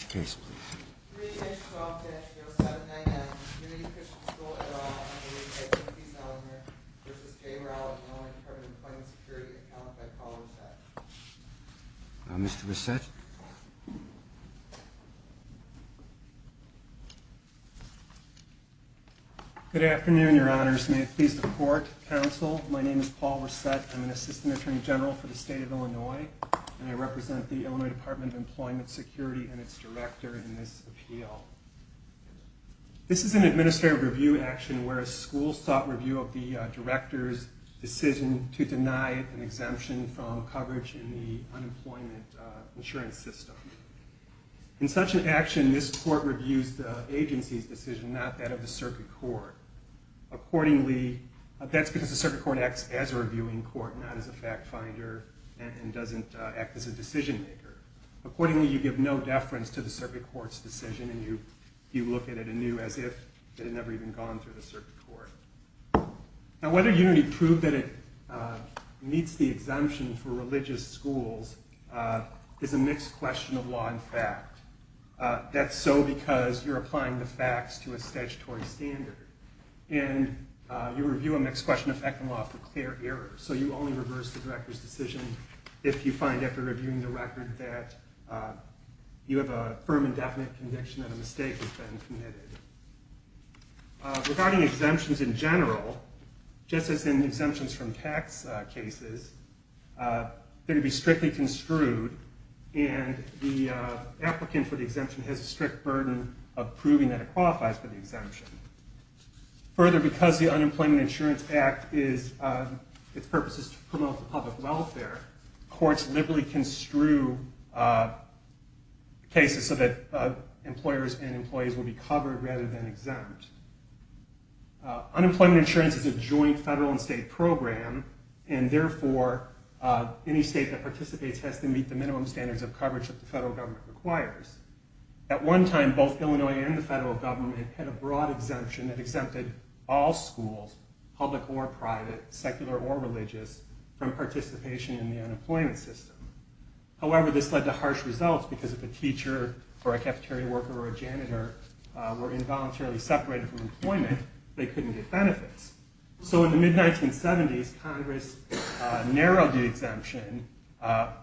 3-12-0799 Community Christian School at All v. J. Rowell, Illinois Department of Employment Security, accounted by Paul Risset. Mr. Risset? Good afternoon, Your Honors. May it please the Court, Counsel, my name is Paul Risset, I'm an Assistant Attorney General for the State of Illinois, and I represent the Illinois Department of Employment Security and its director in this appeal. This is an administrative review action where a school sought review of the director's decision to deny an exemption from coverage in the unemployment insurance system. In such an action, this Court reviews the agency's decision, not that of the circuit court. Accordingly, that's because the circuit court acts as a reviewing court, not as a fact finder and doesn't act as a decision maker. Accordingly, you give no deference to the circuit court's decision and you look at it anew as if it had never even gone through the circuit court. Now whether Unity proved that it meets the exemption for religious schools is a mixed question of law and fact. That's so because you're applying the facts to a statutory standard, and you review a mixed question of fact and law for clear error, so you only reverse the director's decision if you find after reviewing the record that you have a firm and definite conviction that a mistake has been committed. Regarding exemptions in general, just as in exemptions from tax cases, they're to be strictly construed and the applicant for the exemption has a strict burden of proving that it qualifies for the exemption. Further, because the Unemployment Insurance Act, its purpose is to promote public welfare, courts liberally construe cases so that employers and employees will be covered rather than exempt. Unemployment insurance is a joint federal and state program, and therefore any state that participates has to meet the minimum standards of coverage that the federal government requires. At one time, both Illinois and the federal government had a broad exemption that exempted all schools, public or private, secular or religious, from participation in the unemployment system. However, this led to harsh results because if a teacher or a cafeteria worker or a janitor were involuntarily separated from employment, they couldn't get benefits. So in the mid-1970s, Congress narrowed the exemption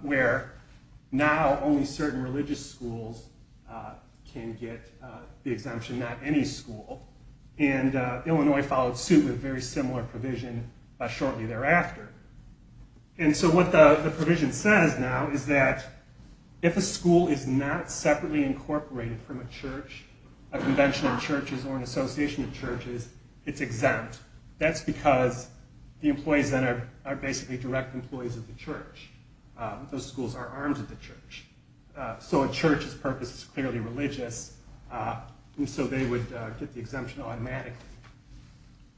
where now only certain religious schools can get the exemption, not any school, and Illinois followed suit with a very similar provision shortly thereafter. And so what the provision says now is that if a school is not separately incorporated from a church, a convention of churches or an association of churches, it's exempt. That's because the employees then are basically direct employees of the church. Those schools are armed with the church. So a church's purpose is clearly religious, and so they would get the exemption automatically.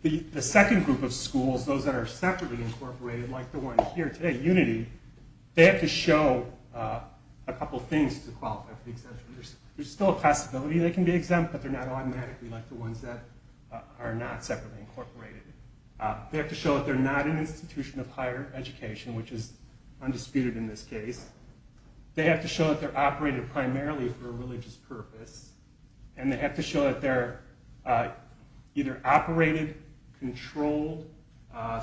The second group of schools, those that are separately incorporated, like the one here today, Unity, they have to show a couple things to qualify for the exemption. There's still a possibility they can be exempt, but they're not automatically like the ones that are not separately incorporated. They have to show that they're not an institution of higher education, which is undisputed in this case. They have to show that they're operated primarily for a religious purpose, and they have to show that they're either operated, controlled,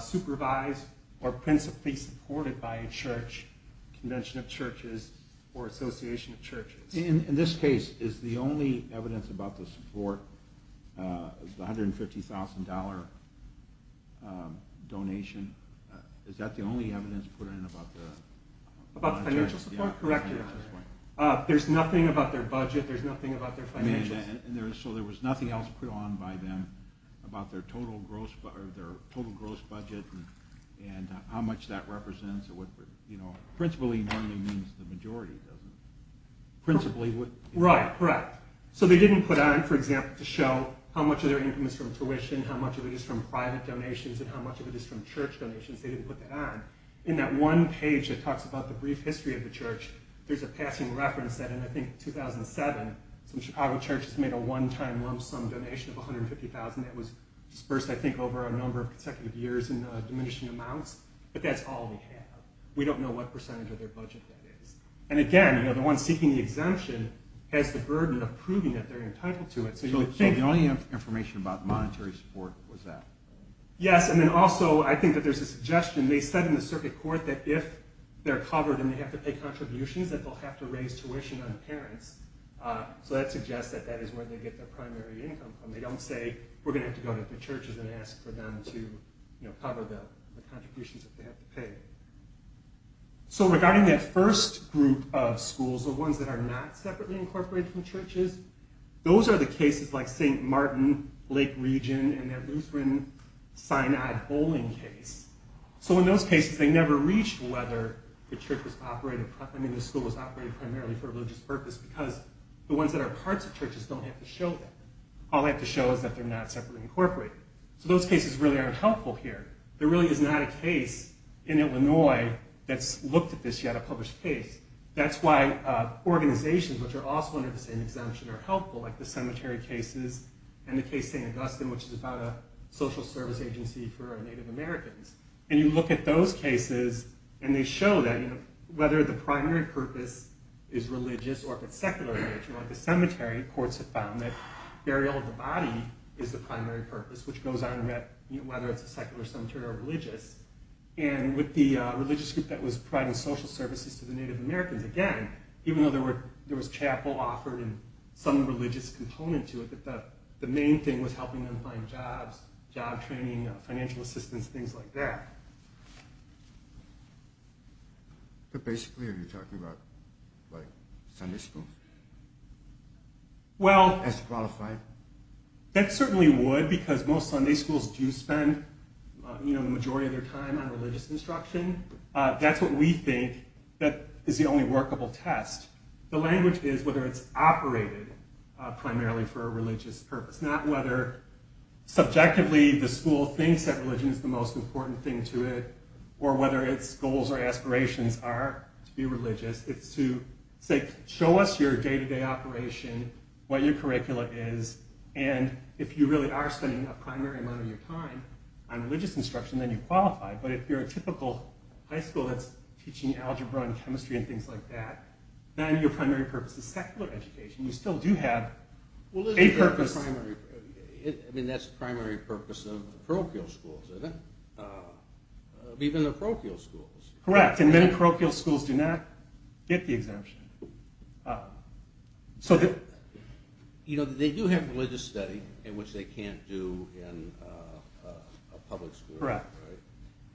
supervised, or principally supported by a church, convention of churches, or association of churches. In this case, is the only evidence about the support, the $150,000 donation, is that the only evidence put in about the financial support? Correct me if I'm wrong. There's nothing about their budget, there's nothing about their financial support. So there was nothing else put on by them about their total gross budget, and how much that represents. Principally funding means the majority, doesn't it? Principally what? Right, correct. So they didn't put on, for example, to show how much of their income is from tuition, how much of it is from private donations, and how much of it is from church donations. They didn't put that on. In that one page that talks about the brief history of the church, there's a passing reference that in, I think, 2007, some Chicago churches made a one-time lump sum donation of $150,000 that was disbursed, I think, over a number of consecutive years in diminishing amounts. But that's all we have. We don't know what percentage of their budget that is. And again, the one seeking the exemption has the burden of proving that they're entitled to it. So the only information about monetary support was that? Yes, and then also I think that there's a suggestion, they said in the circuit court that if they're covered and they have to pay contributions, that they'll have to raise tuition on the parents. So that suggests that that is where they get their primary income from. They don't say, we're going to have to go to the churches and ask for them to cover the contributions that they have to pay. So regarding that first group of schools, the ones that are not separately incorporated from churches, those are the cases like St. Martin, Lake Region, and that Lutheran Sinai Bowling case. So in those cases, they never reached whether the church was operated, I mean, the school was operated primarily for a religious purpose because the ones that are parts of churches don't have to show that. All they have to show is that they're not separately incorporated. So those cases really aren't helpful here. There really is not a case in Illinois that's looked at this yet, a published case. That's why organizations which are also under the same exemption are helpful, like the cemetery cases and the case St. Augustine, which is about a social service agency for Native Americans. And you look at those cases and they show that whether the primary purpose is religious or if it's secular, like the cemetery, courts have found that burial of the body is the primary purpose, which goes on whether it's a secular cemetery or religious. And with the religious group that was providing social services to the Native Americans, again, even though there was chapel offered and some religious component to it, that the main thing was helping them find jobs, job training, financial assistance, things like that. But basically are you talking about Sunday school as qualified? That certainly would because most Sunday schools do spend the majority of their time on religious instruction. That's what we think is the only workable test. The language is whether it's operated primarily for a religious purpose, not whether subjectively the school thinks that religion is the most important thing to it or whether its goals or aspirations are to be religious. It's to say, show us your day-to-day operation, what your curricula is, and if you really are spending a primary amount of your time on religious instruction, then you qualify. But if you're a typical high school that's teaching algebra and chemistry and things like that, then your primary purpose is secular education. You still do have a purpose. I mean, that's the primary purpose of the parochial schools, isn't it? Even the parochial schools. Correct. And many parochial schools do not get the exemption. You know, they do have religious study in which they can't do in a public school. Correct.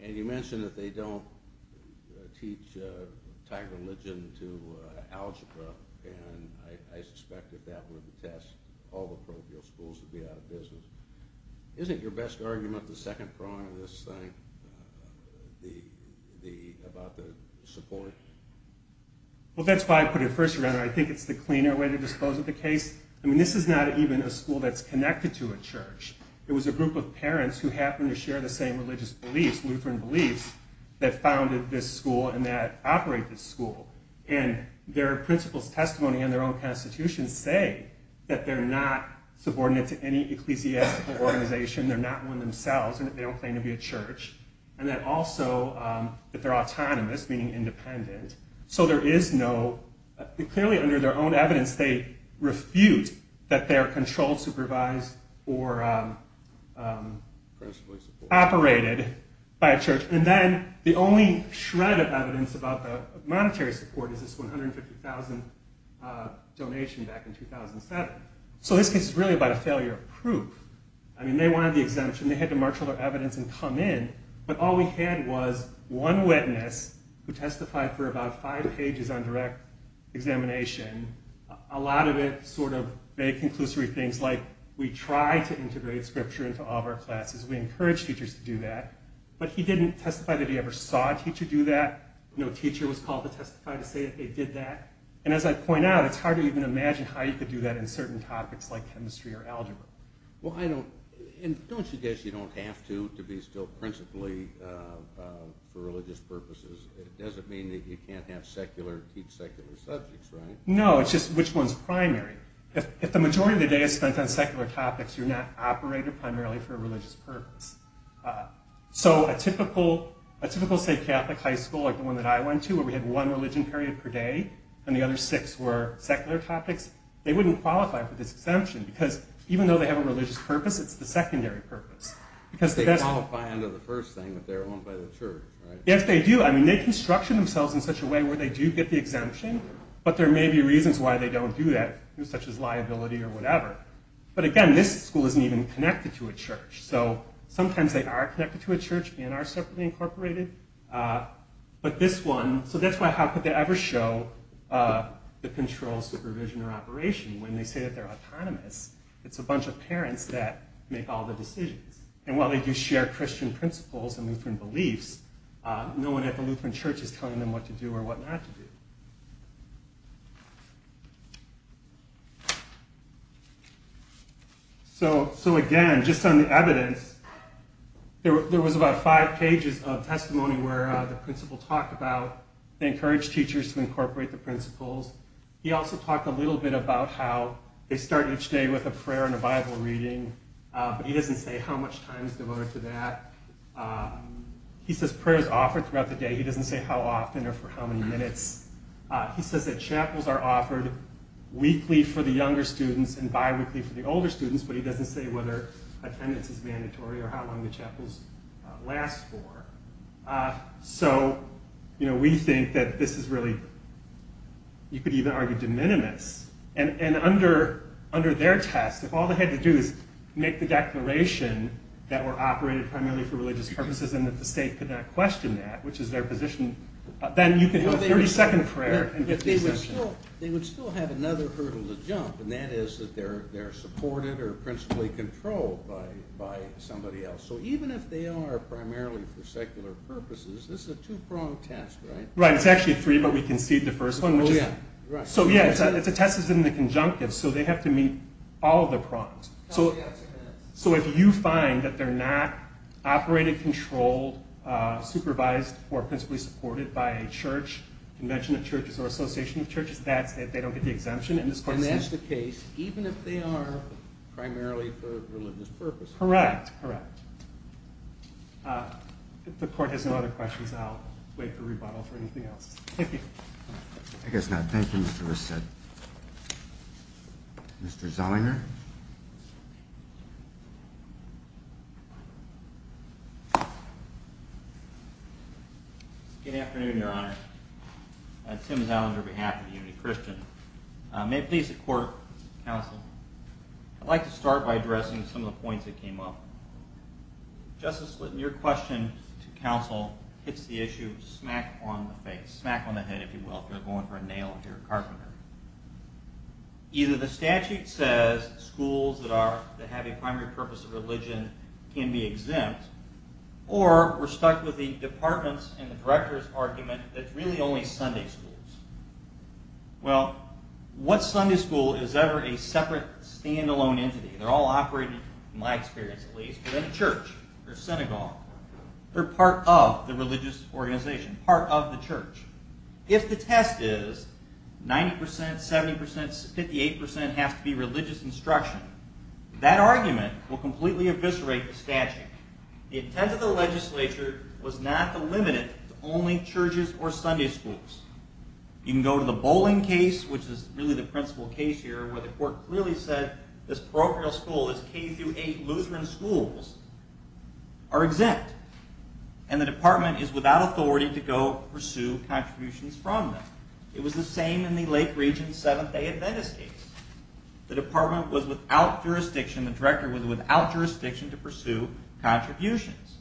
And you mentioned that they don't teach Thai religion to algebra, and I suspect if that were the test, all the parochial schools would be out of business. Isn't your best argument the second prong of this thing? About the support? Well, that's why I put it first around. I think it's the cleaner way to dispose of the case. I mean, this is not even a school that's connected to a church. It was a group of parents who happened to share the same religious beliefs, Lutheran beliefs, that founded this school and that operate this school. And their principal's testimony in their own constitution say that they're not subordinate to any ecclesiastical organization. They're not one themselves. They don't claim to be a church. And that also that they're autonomous, meaning independent. So there is no... Clearly, under their own evidence, they refute that they're controlled, supervised, or operated by a church. And then the only shred of evidence about the monetary support is this $150,000 donation back in 2007. So this case is really about a failure of proof. I mean, they wanted the exemption. They had to marshal their evidence and come in. But all we had was one witness who testified for about five pages on direct examination. A lot of it sort of vague, conclusory things like, we tried to integrate scripture into all of our classes. We encouraged teachers to do that. But he didn't testify that he ever saw a teacher do that. No teacher was called to testify to say that they did that. And as I point out, it's hard to even imagine how you could do that in certain topics like chemistry or algebra. Well, I don't... And don't you guess you don't have to, to be still principally for religious purposes? It doesn't mean that you can't have secular, teach secular subjects, right? No, it's just which one's primary. If the majority of the day is spent on secular topics, you're not operated primarily for a religious purpose. So a typical, say, Catholic high school, like the one that I went to, where we had one religion period per day, and the other six were secular topics, they wouldn't qualify for this exemption because even though they have a religious purpose, it's the secondary purpose. They qualify under the first thing that they're owned by the church, right? Yes, they do. I mean, they construction themselves in such a way where they do get the exemption, but there may be reasons why they don't do that, such as liability or whatever. But again, this school isn't even connected to a church. So sometimes they are connected to a church and are separately incorporated. But this one... So that's why how could they ever show the control, supervision, or operation when they say that they're autonomous? It's a bunch of parents that make all the decisions. And while they do share Christian principles and Lutheran beliefs, no one at the Lutheran church is telling them what to do or what not to do. So again, just on the evidence, there was about five pages of testimony where the principal talked about... They encouraged teachers to incorporate the principals. He also talked a little bit about how they start each day with a prayer and a Bible reading, but he doesn't say how much time is devoted to that. He says prayer is offered throughout the day. He doesn't say how often or for how many minutes. He says that chapels are offered weekly for the younger students and bi-weekly for the older students, but he doesn't say whether attendance is mandatory or how long the chapels last for. So we think that this is really, you could even argue, de minimis. And under their test, if all they had to do is make the declaration that were operated primarily for religious purposes and that the state could not question that, which is their position, then you could have a 30-second prayer and get the exemption. They would still have another hurdle to jump, and that is that they're supported or principally controlled by somebody else. So even if they are primarily for secular purposes, this is a two-pronged test, right? Right. It's actually three, but we conceded the first one. Oh, yeah. Right. So, yeah, it's a test that's in the conjunctive, so they have to meet all of the prongs. Oh, yes, yes. So if you find that they're not operated, controlled, supervised, or principally supported by a church, convention of churches, or association of churches, that's it. They don't get the exemption. And that's the case even if they are primarily for religious purposes. Correct. Correct. If the court has no other questions, I'll wait for rebuttal for anything else. Thank you. I guess not. Thank you, Mr. Risset. Mr. Zollinger? Good afternoon, Your Honor. Tim Zollinger on behalf of the Unity Christian. May it please the court, counsel, I'd like to start by addressing some of the points that came up. Justice Slitton, your question to counsel hits the issue smack on the face, smack on the head, if you will, if you're going for a nail at your carpenter. Either the statute says schools that have a primary purpose of religion can be exempt, or we're stuck with the department's and the director's argument that it's really only Sunday schools. Well, what Sunday school is ever a separate, stand-alone entity? They're all operating, in my experience at least, within a church or synagogue. They're part of the religious organization, part of the church. If the test is 90%, 70%, 58% has to be religious instruction, that argument will completely eviscerate the statute. The intent of the legislature was not to limit it to only churches or Sunday schools. You can go to the Boling case, which is really the principal case here, where the court clearly said this parochial school is K-8 Lutheran schools are exempt, and the department is without authority to go pursue contributions from them. It was the same in the Lake Region Seventh-day Adventist case. The department was without jurisdiction, the director was without jurisdiction to pursue contributions.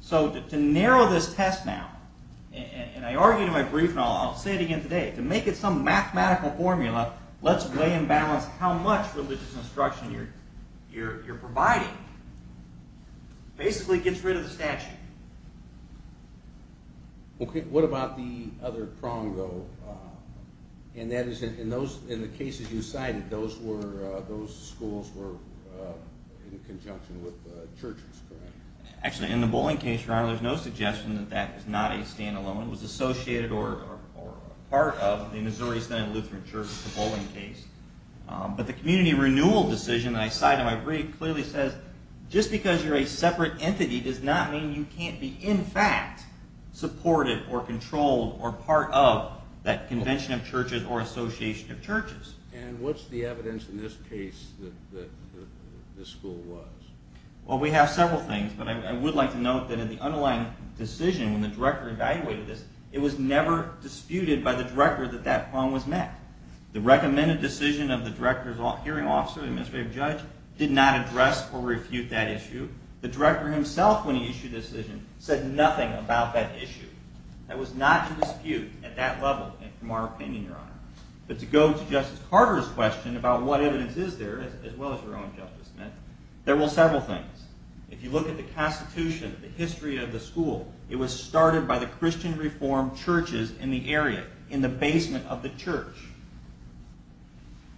So to narrow this test now, and I argue to my brief, and I'll say it again today, to make it some mathematical formula, let's weigh and balance how much religious instruction you're providing. Basically, it gets rid of the statute. Okay, what about the other prong, though? And that is, in the cases you cited, those schools were in conjunction with churches, correct? Actually, in the Boling case, Ronald, there's no suggestion that that is not a stand-alone. It was associated or a part of the Missouri Senate Lutheran Church, the Boling case. But the community renewal decision that I cite in my brief clearly says, just because you're a separate entity does not mean you can't be, in fact, supported or controlled or part of that convention of churches or association of churches. And what's the evidence in this case that this school was? Well, we have several things, but I would like to note that in the underlying decision, when the director evaluated this, it was never disputed by the director that that prong was met. The recommended decision of the director's hearing officer, the administrative judge, did not address or refute that issue. The director himself, when he issued the decision, said nothing about that issue. That was not to dispute at that level, in our opinion, Your Honor. But to go to Justice Carter's question about what evidence is there, as well as your own, Justice Smith, there were several things. If you look at the Constitution, the history of the school, it was started by the Christian Reformed Churches in the area, in the basement of the church.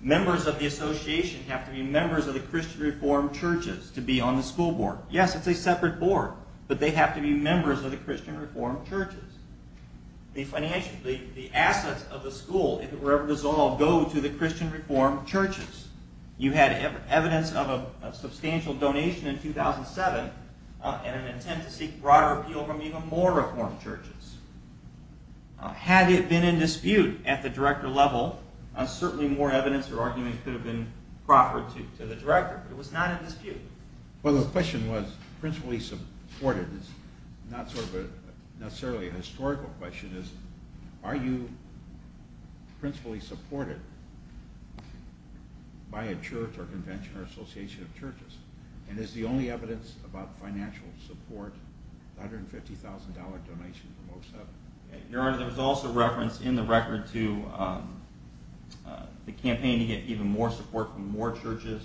Members of the association have to be members of the Christian Reformed Churches to be on the school board. Yes, it's a separate board, but they have to be members of the Christian Reformed Churches. The assets of the school, if it were ever dissolved, go to the Christian Reformed Churches. You had evidence of a substantial donation in 2007, and an intent to seek broader appeal from even more Reformed Churches. Had it been in dispute at the director level, certainly more evidence or argument could have been proffered to the director. It was not in dispute. Well, the question was principally supported. It's not necessarily a historical question. Are you principally supported by a church or convention or association of churches? And is the only evidence about financial support $150,000 donation from 2007? Your Honor, there was also reference in the record to the campaign to get even more support from more churches.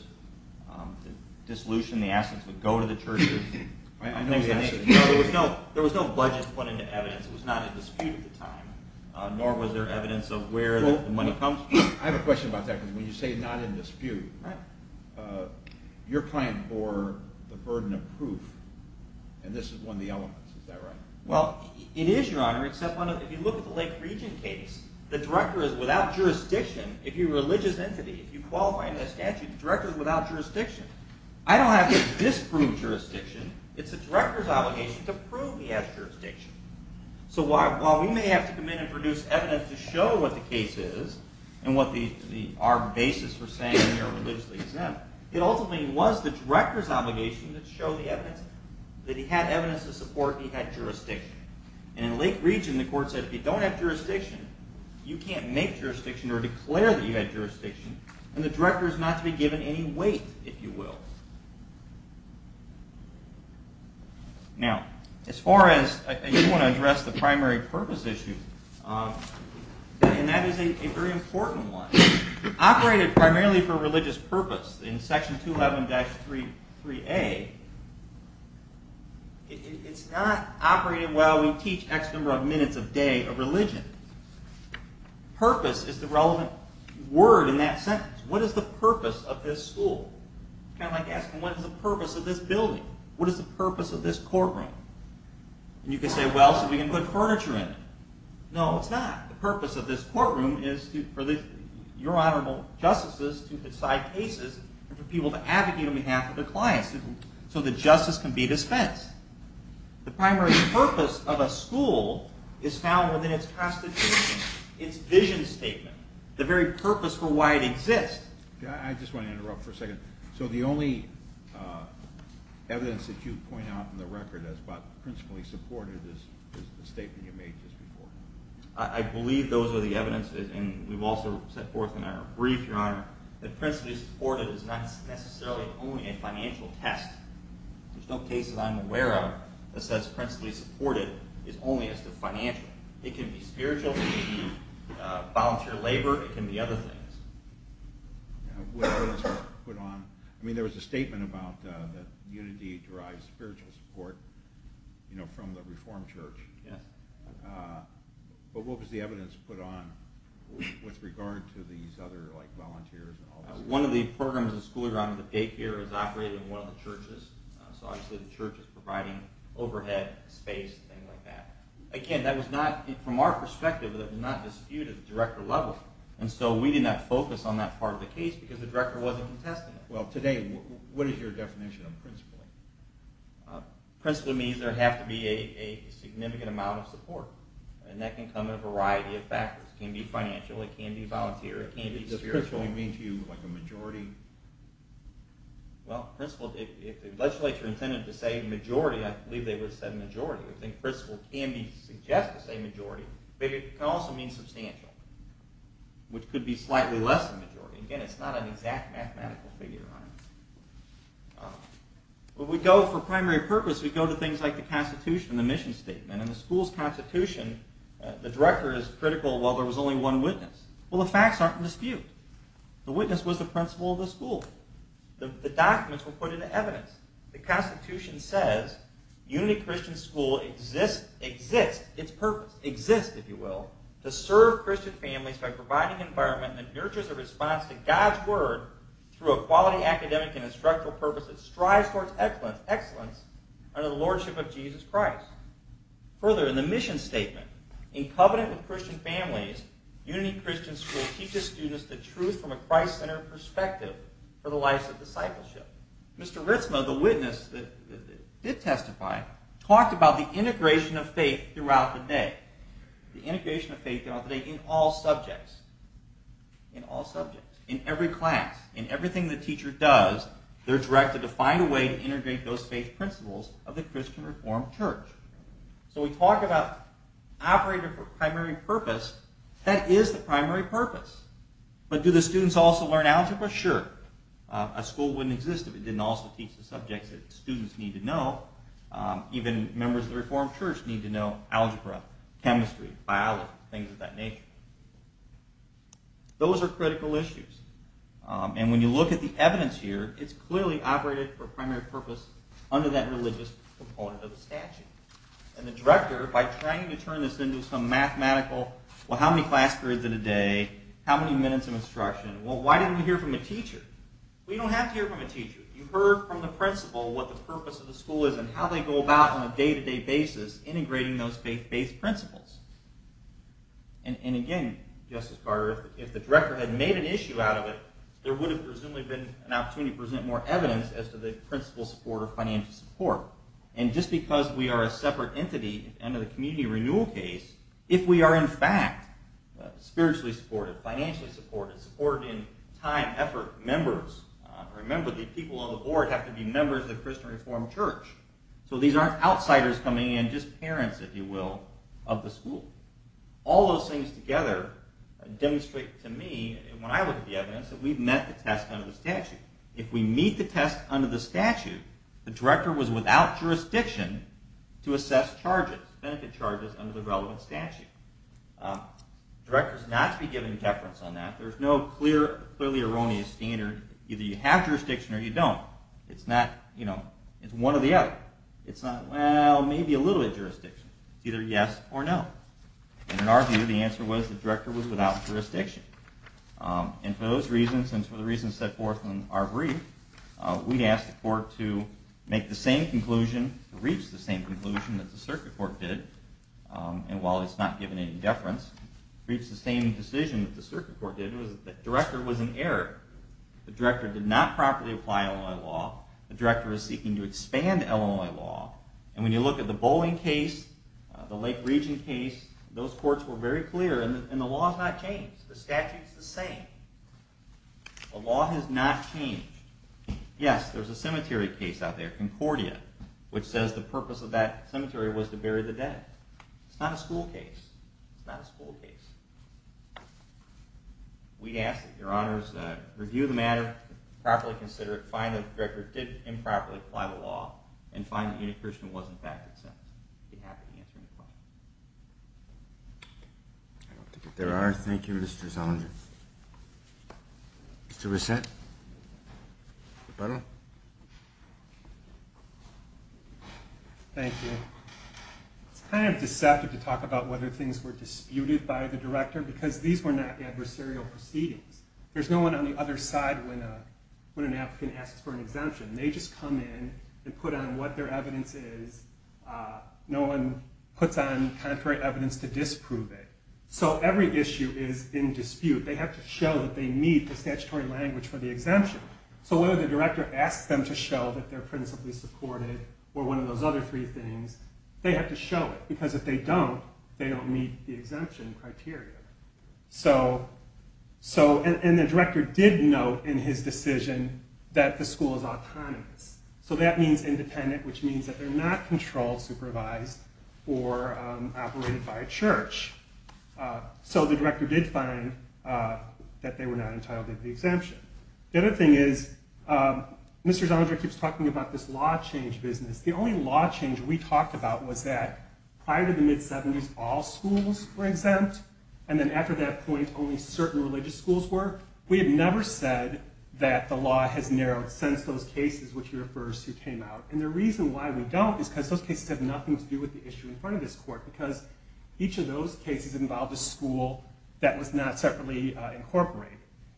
The dissolution, the assets would go to the churches. I know the answer. There was no budget put into evidence. It was not in dispute at the time, nor was there evidence of where the money comes from. I have a question about that, because when you say not in dispute, your client bore the burden of proof, and this is one of the elements. Is that right? Well, it is, Your Honor, except if you look at the Lake Region case, the director is without jurisdiction. If you're a religious entity, if you qualify under the statute, the director is without jurisdiction. I don't have to disprove jurisdiction. It's the director's obligation to prove he has jurisdiction. So while we may have to come in and produce evidence to show what the case is and what our basis for saying you're religiously exempt, it ultimately was the director's obligation to show the evidence, that he had evidence to support he had jurisdiction. And in Lake Region, the court said if you don't have jurisdiction, you can't make jurisdiction or declare that you had jurisdiction, and the director is not to be given any weight, if you will. Now, as far as you want to address the primary purpose issue, and that is a very important one. Operated primarily for religious purpose, in Section 211-3A, it's not operated while we teach X number of minutes a day of religion. Purpose is the relevant word in that sentence. What is the purpose of this school? It's kind of like asking what is the purpose of this building? What is the purpose of this courtroom? And you can say, well, so we can put furniture in it. No, it's not. The purpose of this courtroom is for your Honorable Justices to decide cases and for people to advocate on behalf of their clients so that justice can be dispensed. The primary purpose of a school is found within its constitution, its vision statement, the very purpose for why it exists. I just want to interrupt for a second. So the only evidence that you point out in the record as principally supported is the statement you made just before. I believe those are the evidence, and we've also set forth in our brief, Your Honor, that principally supported is not necessarily only a financial test. There's no case that I'm aware of that says principally supported is only as to financial. It can be spiritual, it can be volunteer labor, it can be other things. What evidence was put on? I mean, there was a statement about that unity derives spiritual support from the Reformed Church. Yes. But what was the evidence put on with regard to these other volunteers and all this? One of the programs in school around the gate here is operating in one of the churches, so obviously the church is providing overhead, space, things like that. Again, that was not, from our perspective, that was not disputed at the director level, and so we did not focus on that part of the case because the director wasn't contesting it. Well, today, what is your definition of principally? Principally means there has to be a significant amount of support, and that can come in a variety of factors. It can be financial, it can be volunteer, it can be spiritual. What does principally mean to you, like a majority? Well, principally, if the legislature intended to say majority, I believe they would have said majority. I think principally can be suggested to say majority, but it can also mean substantial, which could be slightly less than majority. Again, it's not an exact mathematical figure on it. When we go for primary purpose, we go to things like the constitution, the mission statement. In the school's constitution, the director is critical while there was only one witness. Well, the facts aren't in dispute. The witness was the principal of the school. The documents were put into evidence. The constitution says, Unity Christian School exists, its purpose exists, if you will, to serve Christian families by providing an environment that nurtures a response to God's word through a quality academic and instructional purpose that strives towards excellence under the lordship of Jesus Christ. Further, in the mission statement, in covenant with Christian families, Unity Christian School teaches students the truth from a Christ-centered perspective for the lives of discipleship. Mr. Ritzma, the witness that did testify, talked about the integration of faith throughout the day. The integration of faith throughout the day in all subjects. In all subjects. In every class. In everything the teacher does, they're directed to find a way to integrate those faith principles of the Christian Reformed Church. So we talk about operating for primary purpose. That is the primary purpose. But do the students also learn algebra? Sure. A school wouldn't exist if it didn't also teach the subjects that students need to know. Even members of the Reformed Church need to know algebra, chemistry, biology, things of that nature. Those are critical issues. And when you look at the evidence here, it's clearly operated for primary purpose under that religious component of the statute. And the director, by trying to turn this into some mathematical, well, how many class periods in a day, how many minutes of instruction, well, why didn't we hear from a teacher? Well, you don't have to hear from a teacher. You heard from the principal what the purpose of the school is and how they go about on a day-to-day basis integrating those faith-based principles. And again, Justice Carter, if the director had made an issue out of it, there would have presumably been an opportunity to present more evidence as to the principal support or financial support. And just because we are a separate entity under the community renewal case, if we are in fact spiritually supported, financially supported, supported in time, effort, members, remember the people on the board have to be members of the Christian Reformed Church. So these aren't outsiders coming in, just parents, if you will, of the school. All those things together demonstrate to me, when I look at the evidence, that we've met the test under the statute. If we meet the test under the statute, the director was without jurisdiction to assess charges, benefit charges, under the relevant statute. The director is not to be given deference on that. There's no clearly erroneous standard. Either you have jurisdiction or you don't. It's one or the other. It's not, well, maybe a little bit of jurisdiction. It's either yes or no. And in our view, the answer was the director was without jurisdiction. And for those reasons, and for the reasons set forth in our brief, we asked the court to make the same conclusion, to reach the same conclusion that the circuit court did. And while it's not given any deference, to reach the same decision that the circuit court did was that the director was an error. The director did not properly apply Illinois law. The director is seeking to expand Illinois law. And when you look at the Bowling case, the Lake Region case, those courts were very clear, and the law has not changed. The statute's the same. The law has not changed. Yes, there's a cemetery case out there, Concordia, which says the purpose of that cemetery was to bury the dead. It's not a school case. It's not a school case. We ask that your honors review the matter, properly consider it, and find that the director did improperly apply the law, and find that unaccusement was, in fact, exempt. I'd be happy to answer any questions. I don't think that there are. Thank you, Mr. Zellinger. Mr. Reschent. Thank you. It's kind of deceptive to talk about whether things were disputed by the director, because these were not adversarial proceedings. There's no one on the other side when an applicant asks for an exemption. They just come in and put on what their evidence is. No one puts on contrary evidence to disprove it. So every issue is in dispute. They have to show that they meet the statutory language for the exemption. So whether the director asks them to show that they're principally supported or one of those other three things, they have to show it, because if they don't, they don't meet the exemption criteria. And the director did note in his decision that the school is autonomous. So that means independent, which means that they're not controlled, supervised, or operated by a church. So the director did find that they were not entitled to the exemption. The other thing is, Mr. Zellinger keeps talking about this law change business. The only law change we talked about was that prior to the mid-'70s, all schools were exempt. And then after that point, only certain religious schools were. We have never said that the law has narrowed since those cases, which he refers to, came out. And the reason why we don't is because those cases have nothing to do with the issue in front of this court, because each of those cases involved a school that was not separately incorporated.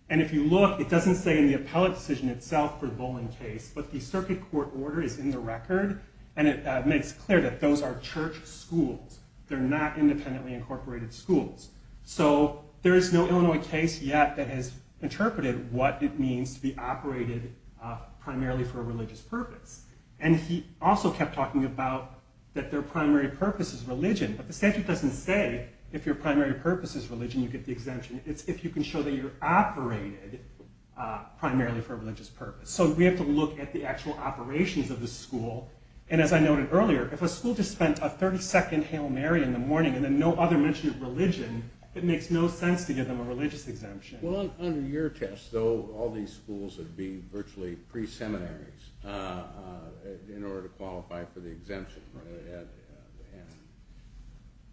And if you look, it doesn't say in the appellate decision itself for the Bowling case, but the circuit court order is in the record, and it makes clear that those are church schools. They're not independently incorporated schools. So there is no Illinois case yet that has interpreted what it means to be operated primarily for a religious purpose. And he also kept talking about that their primary purpose is religion. But the statute doesn't say if your primary purpose is religion, you get the exemption. It's if you can show that you're operated primarily for a religious purpose. So we have to look at the actual operations of the school. And as I noted earlier, if a school just spent a 32nd Hail Mary in the morning and then no other mention of religion, it makes no sense to give them a religious exemption. Well, under your test, though, all these schools would be virtually pre-seminaries in order to qualify for the exemption.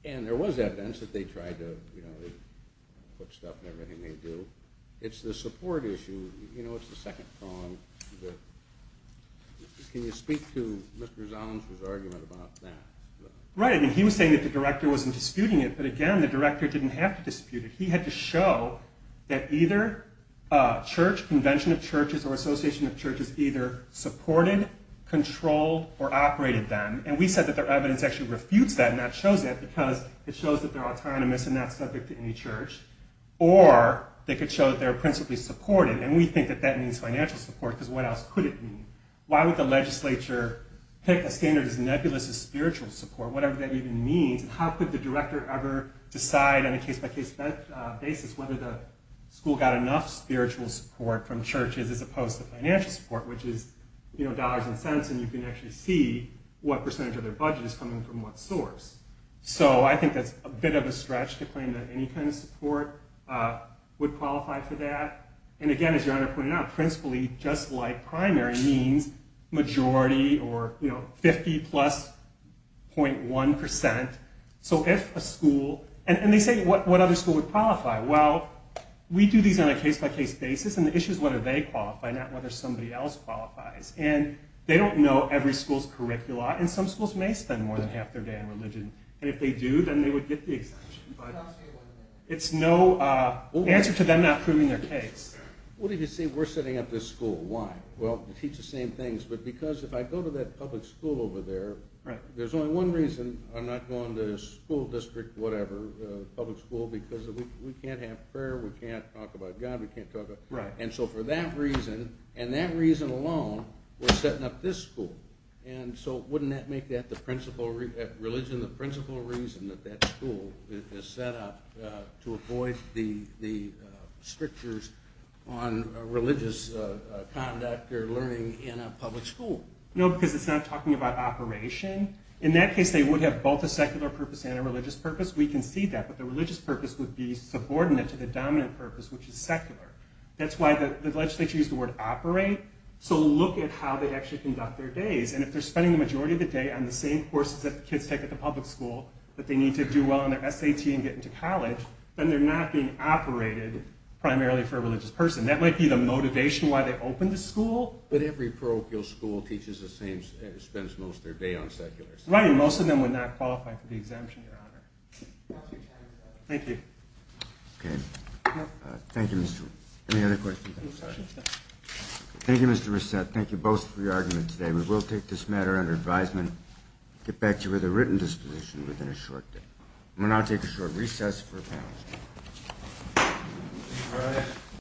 And there was evidence that they tried to put stuff in everything they do. It's the support issue. You know, it's the second prong. Can you speak to Mr. Zolensky's argument about that? Right. I mean, he was saying that the director wasn't disputing it. But, again, the director didn't have to dispute it. He had to show that either a church, convention of churches, or association of churches either supported, controlled, or operated them. And we said that their evidence actually refutes that, and that shows that because it shows that they're autonomous and not subject to any church. Or they could show that they're principally supported. And we think that that means financial support, because what else could it mean? Why would the legislature take a standard as nebulous as spiritual support, whatever that even means, and how could the director ever decide on a case-by-case basis whether the school got enough spiritual support from churches as opposed to financial support, which is dollars and cents, and you can actually see what percentage of their budget is coming from what source. So I think that's a bit of a stretch to claim that any kind of support would qualify for that. And, again, as Your Honor pointed out, principally, just like primary, means majority or 50 plus .1 percent. So if a school... And they say, what other school would qualify? Well, we do these on a case-by-case basis, and the issue is whether they qualify, not whether somebody else qualifies. And they don't know every school's curricula, and some schools may spend more than half their day on religion. And if they do, then they would get the exemption. It's no answer to them not proving their case. What if you say we're setting up this school? Why? Well, to teach the same things. But because if I go to that public school over there, there's only one reason I'm not going to a school district, whatever, a public school, because we can't have prayer, we can't talk about God, we can't talk about... Right. And so for that reason, and that reason alone, we're setting up this school. And so wouldn't that make religion the principal reason that that school is set up to avoid the strictures on religious conduct or learning in a public school? No, because it's not talking about operation. In that case, they would have both a secular purpose and a religious purpose. We can see that. But the religious purpose would be subordinate to the dominant purpose, which is secular. That's why the legislature used the word operate. So look at how they actually conduct their days. And if they're spending the majority of the day on the same courses that the kids take at the public school that they need to do well on their SAT and get into college, then they're not being operated primarily for a religious person. That might be the motivation why they opened the school. But every parochial school teaches the same, spends most of their day on secular stuff. Right, and most of them would not qualify for the exemption, Your Honor. That's your time, sir. Thank you. Okay. Thank you, Mr. Wood. Any other questions? Thank you, Mr. Reset. Thank you both for your arguments today. We will take this matter under advisement, get back to you with a written disposition within a short day. I'm going to now take a short recess for the panel.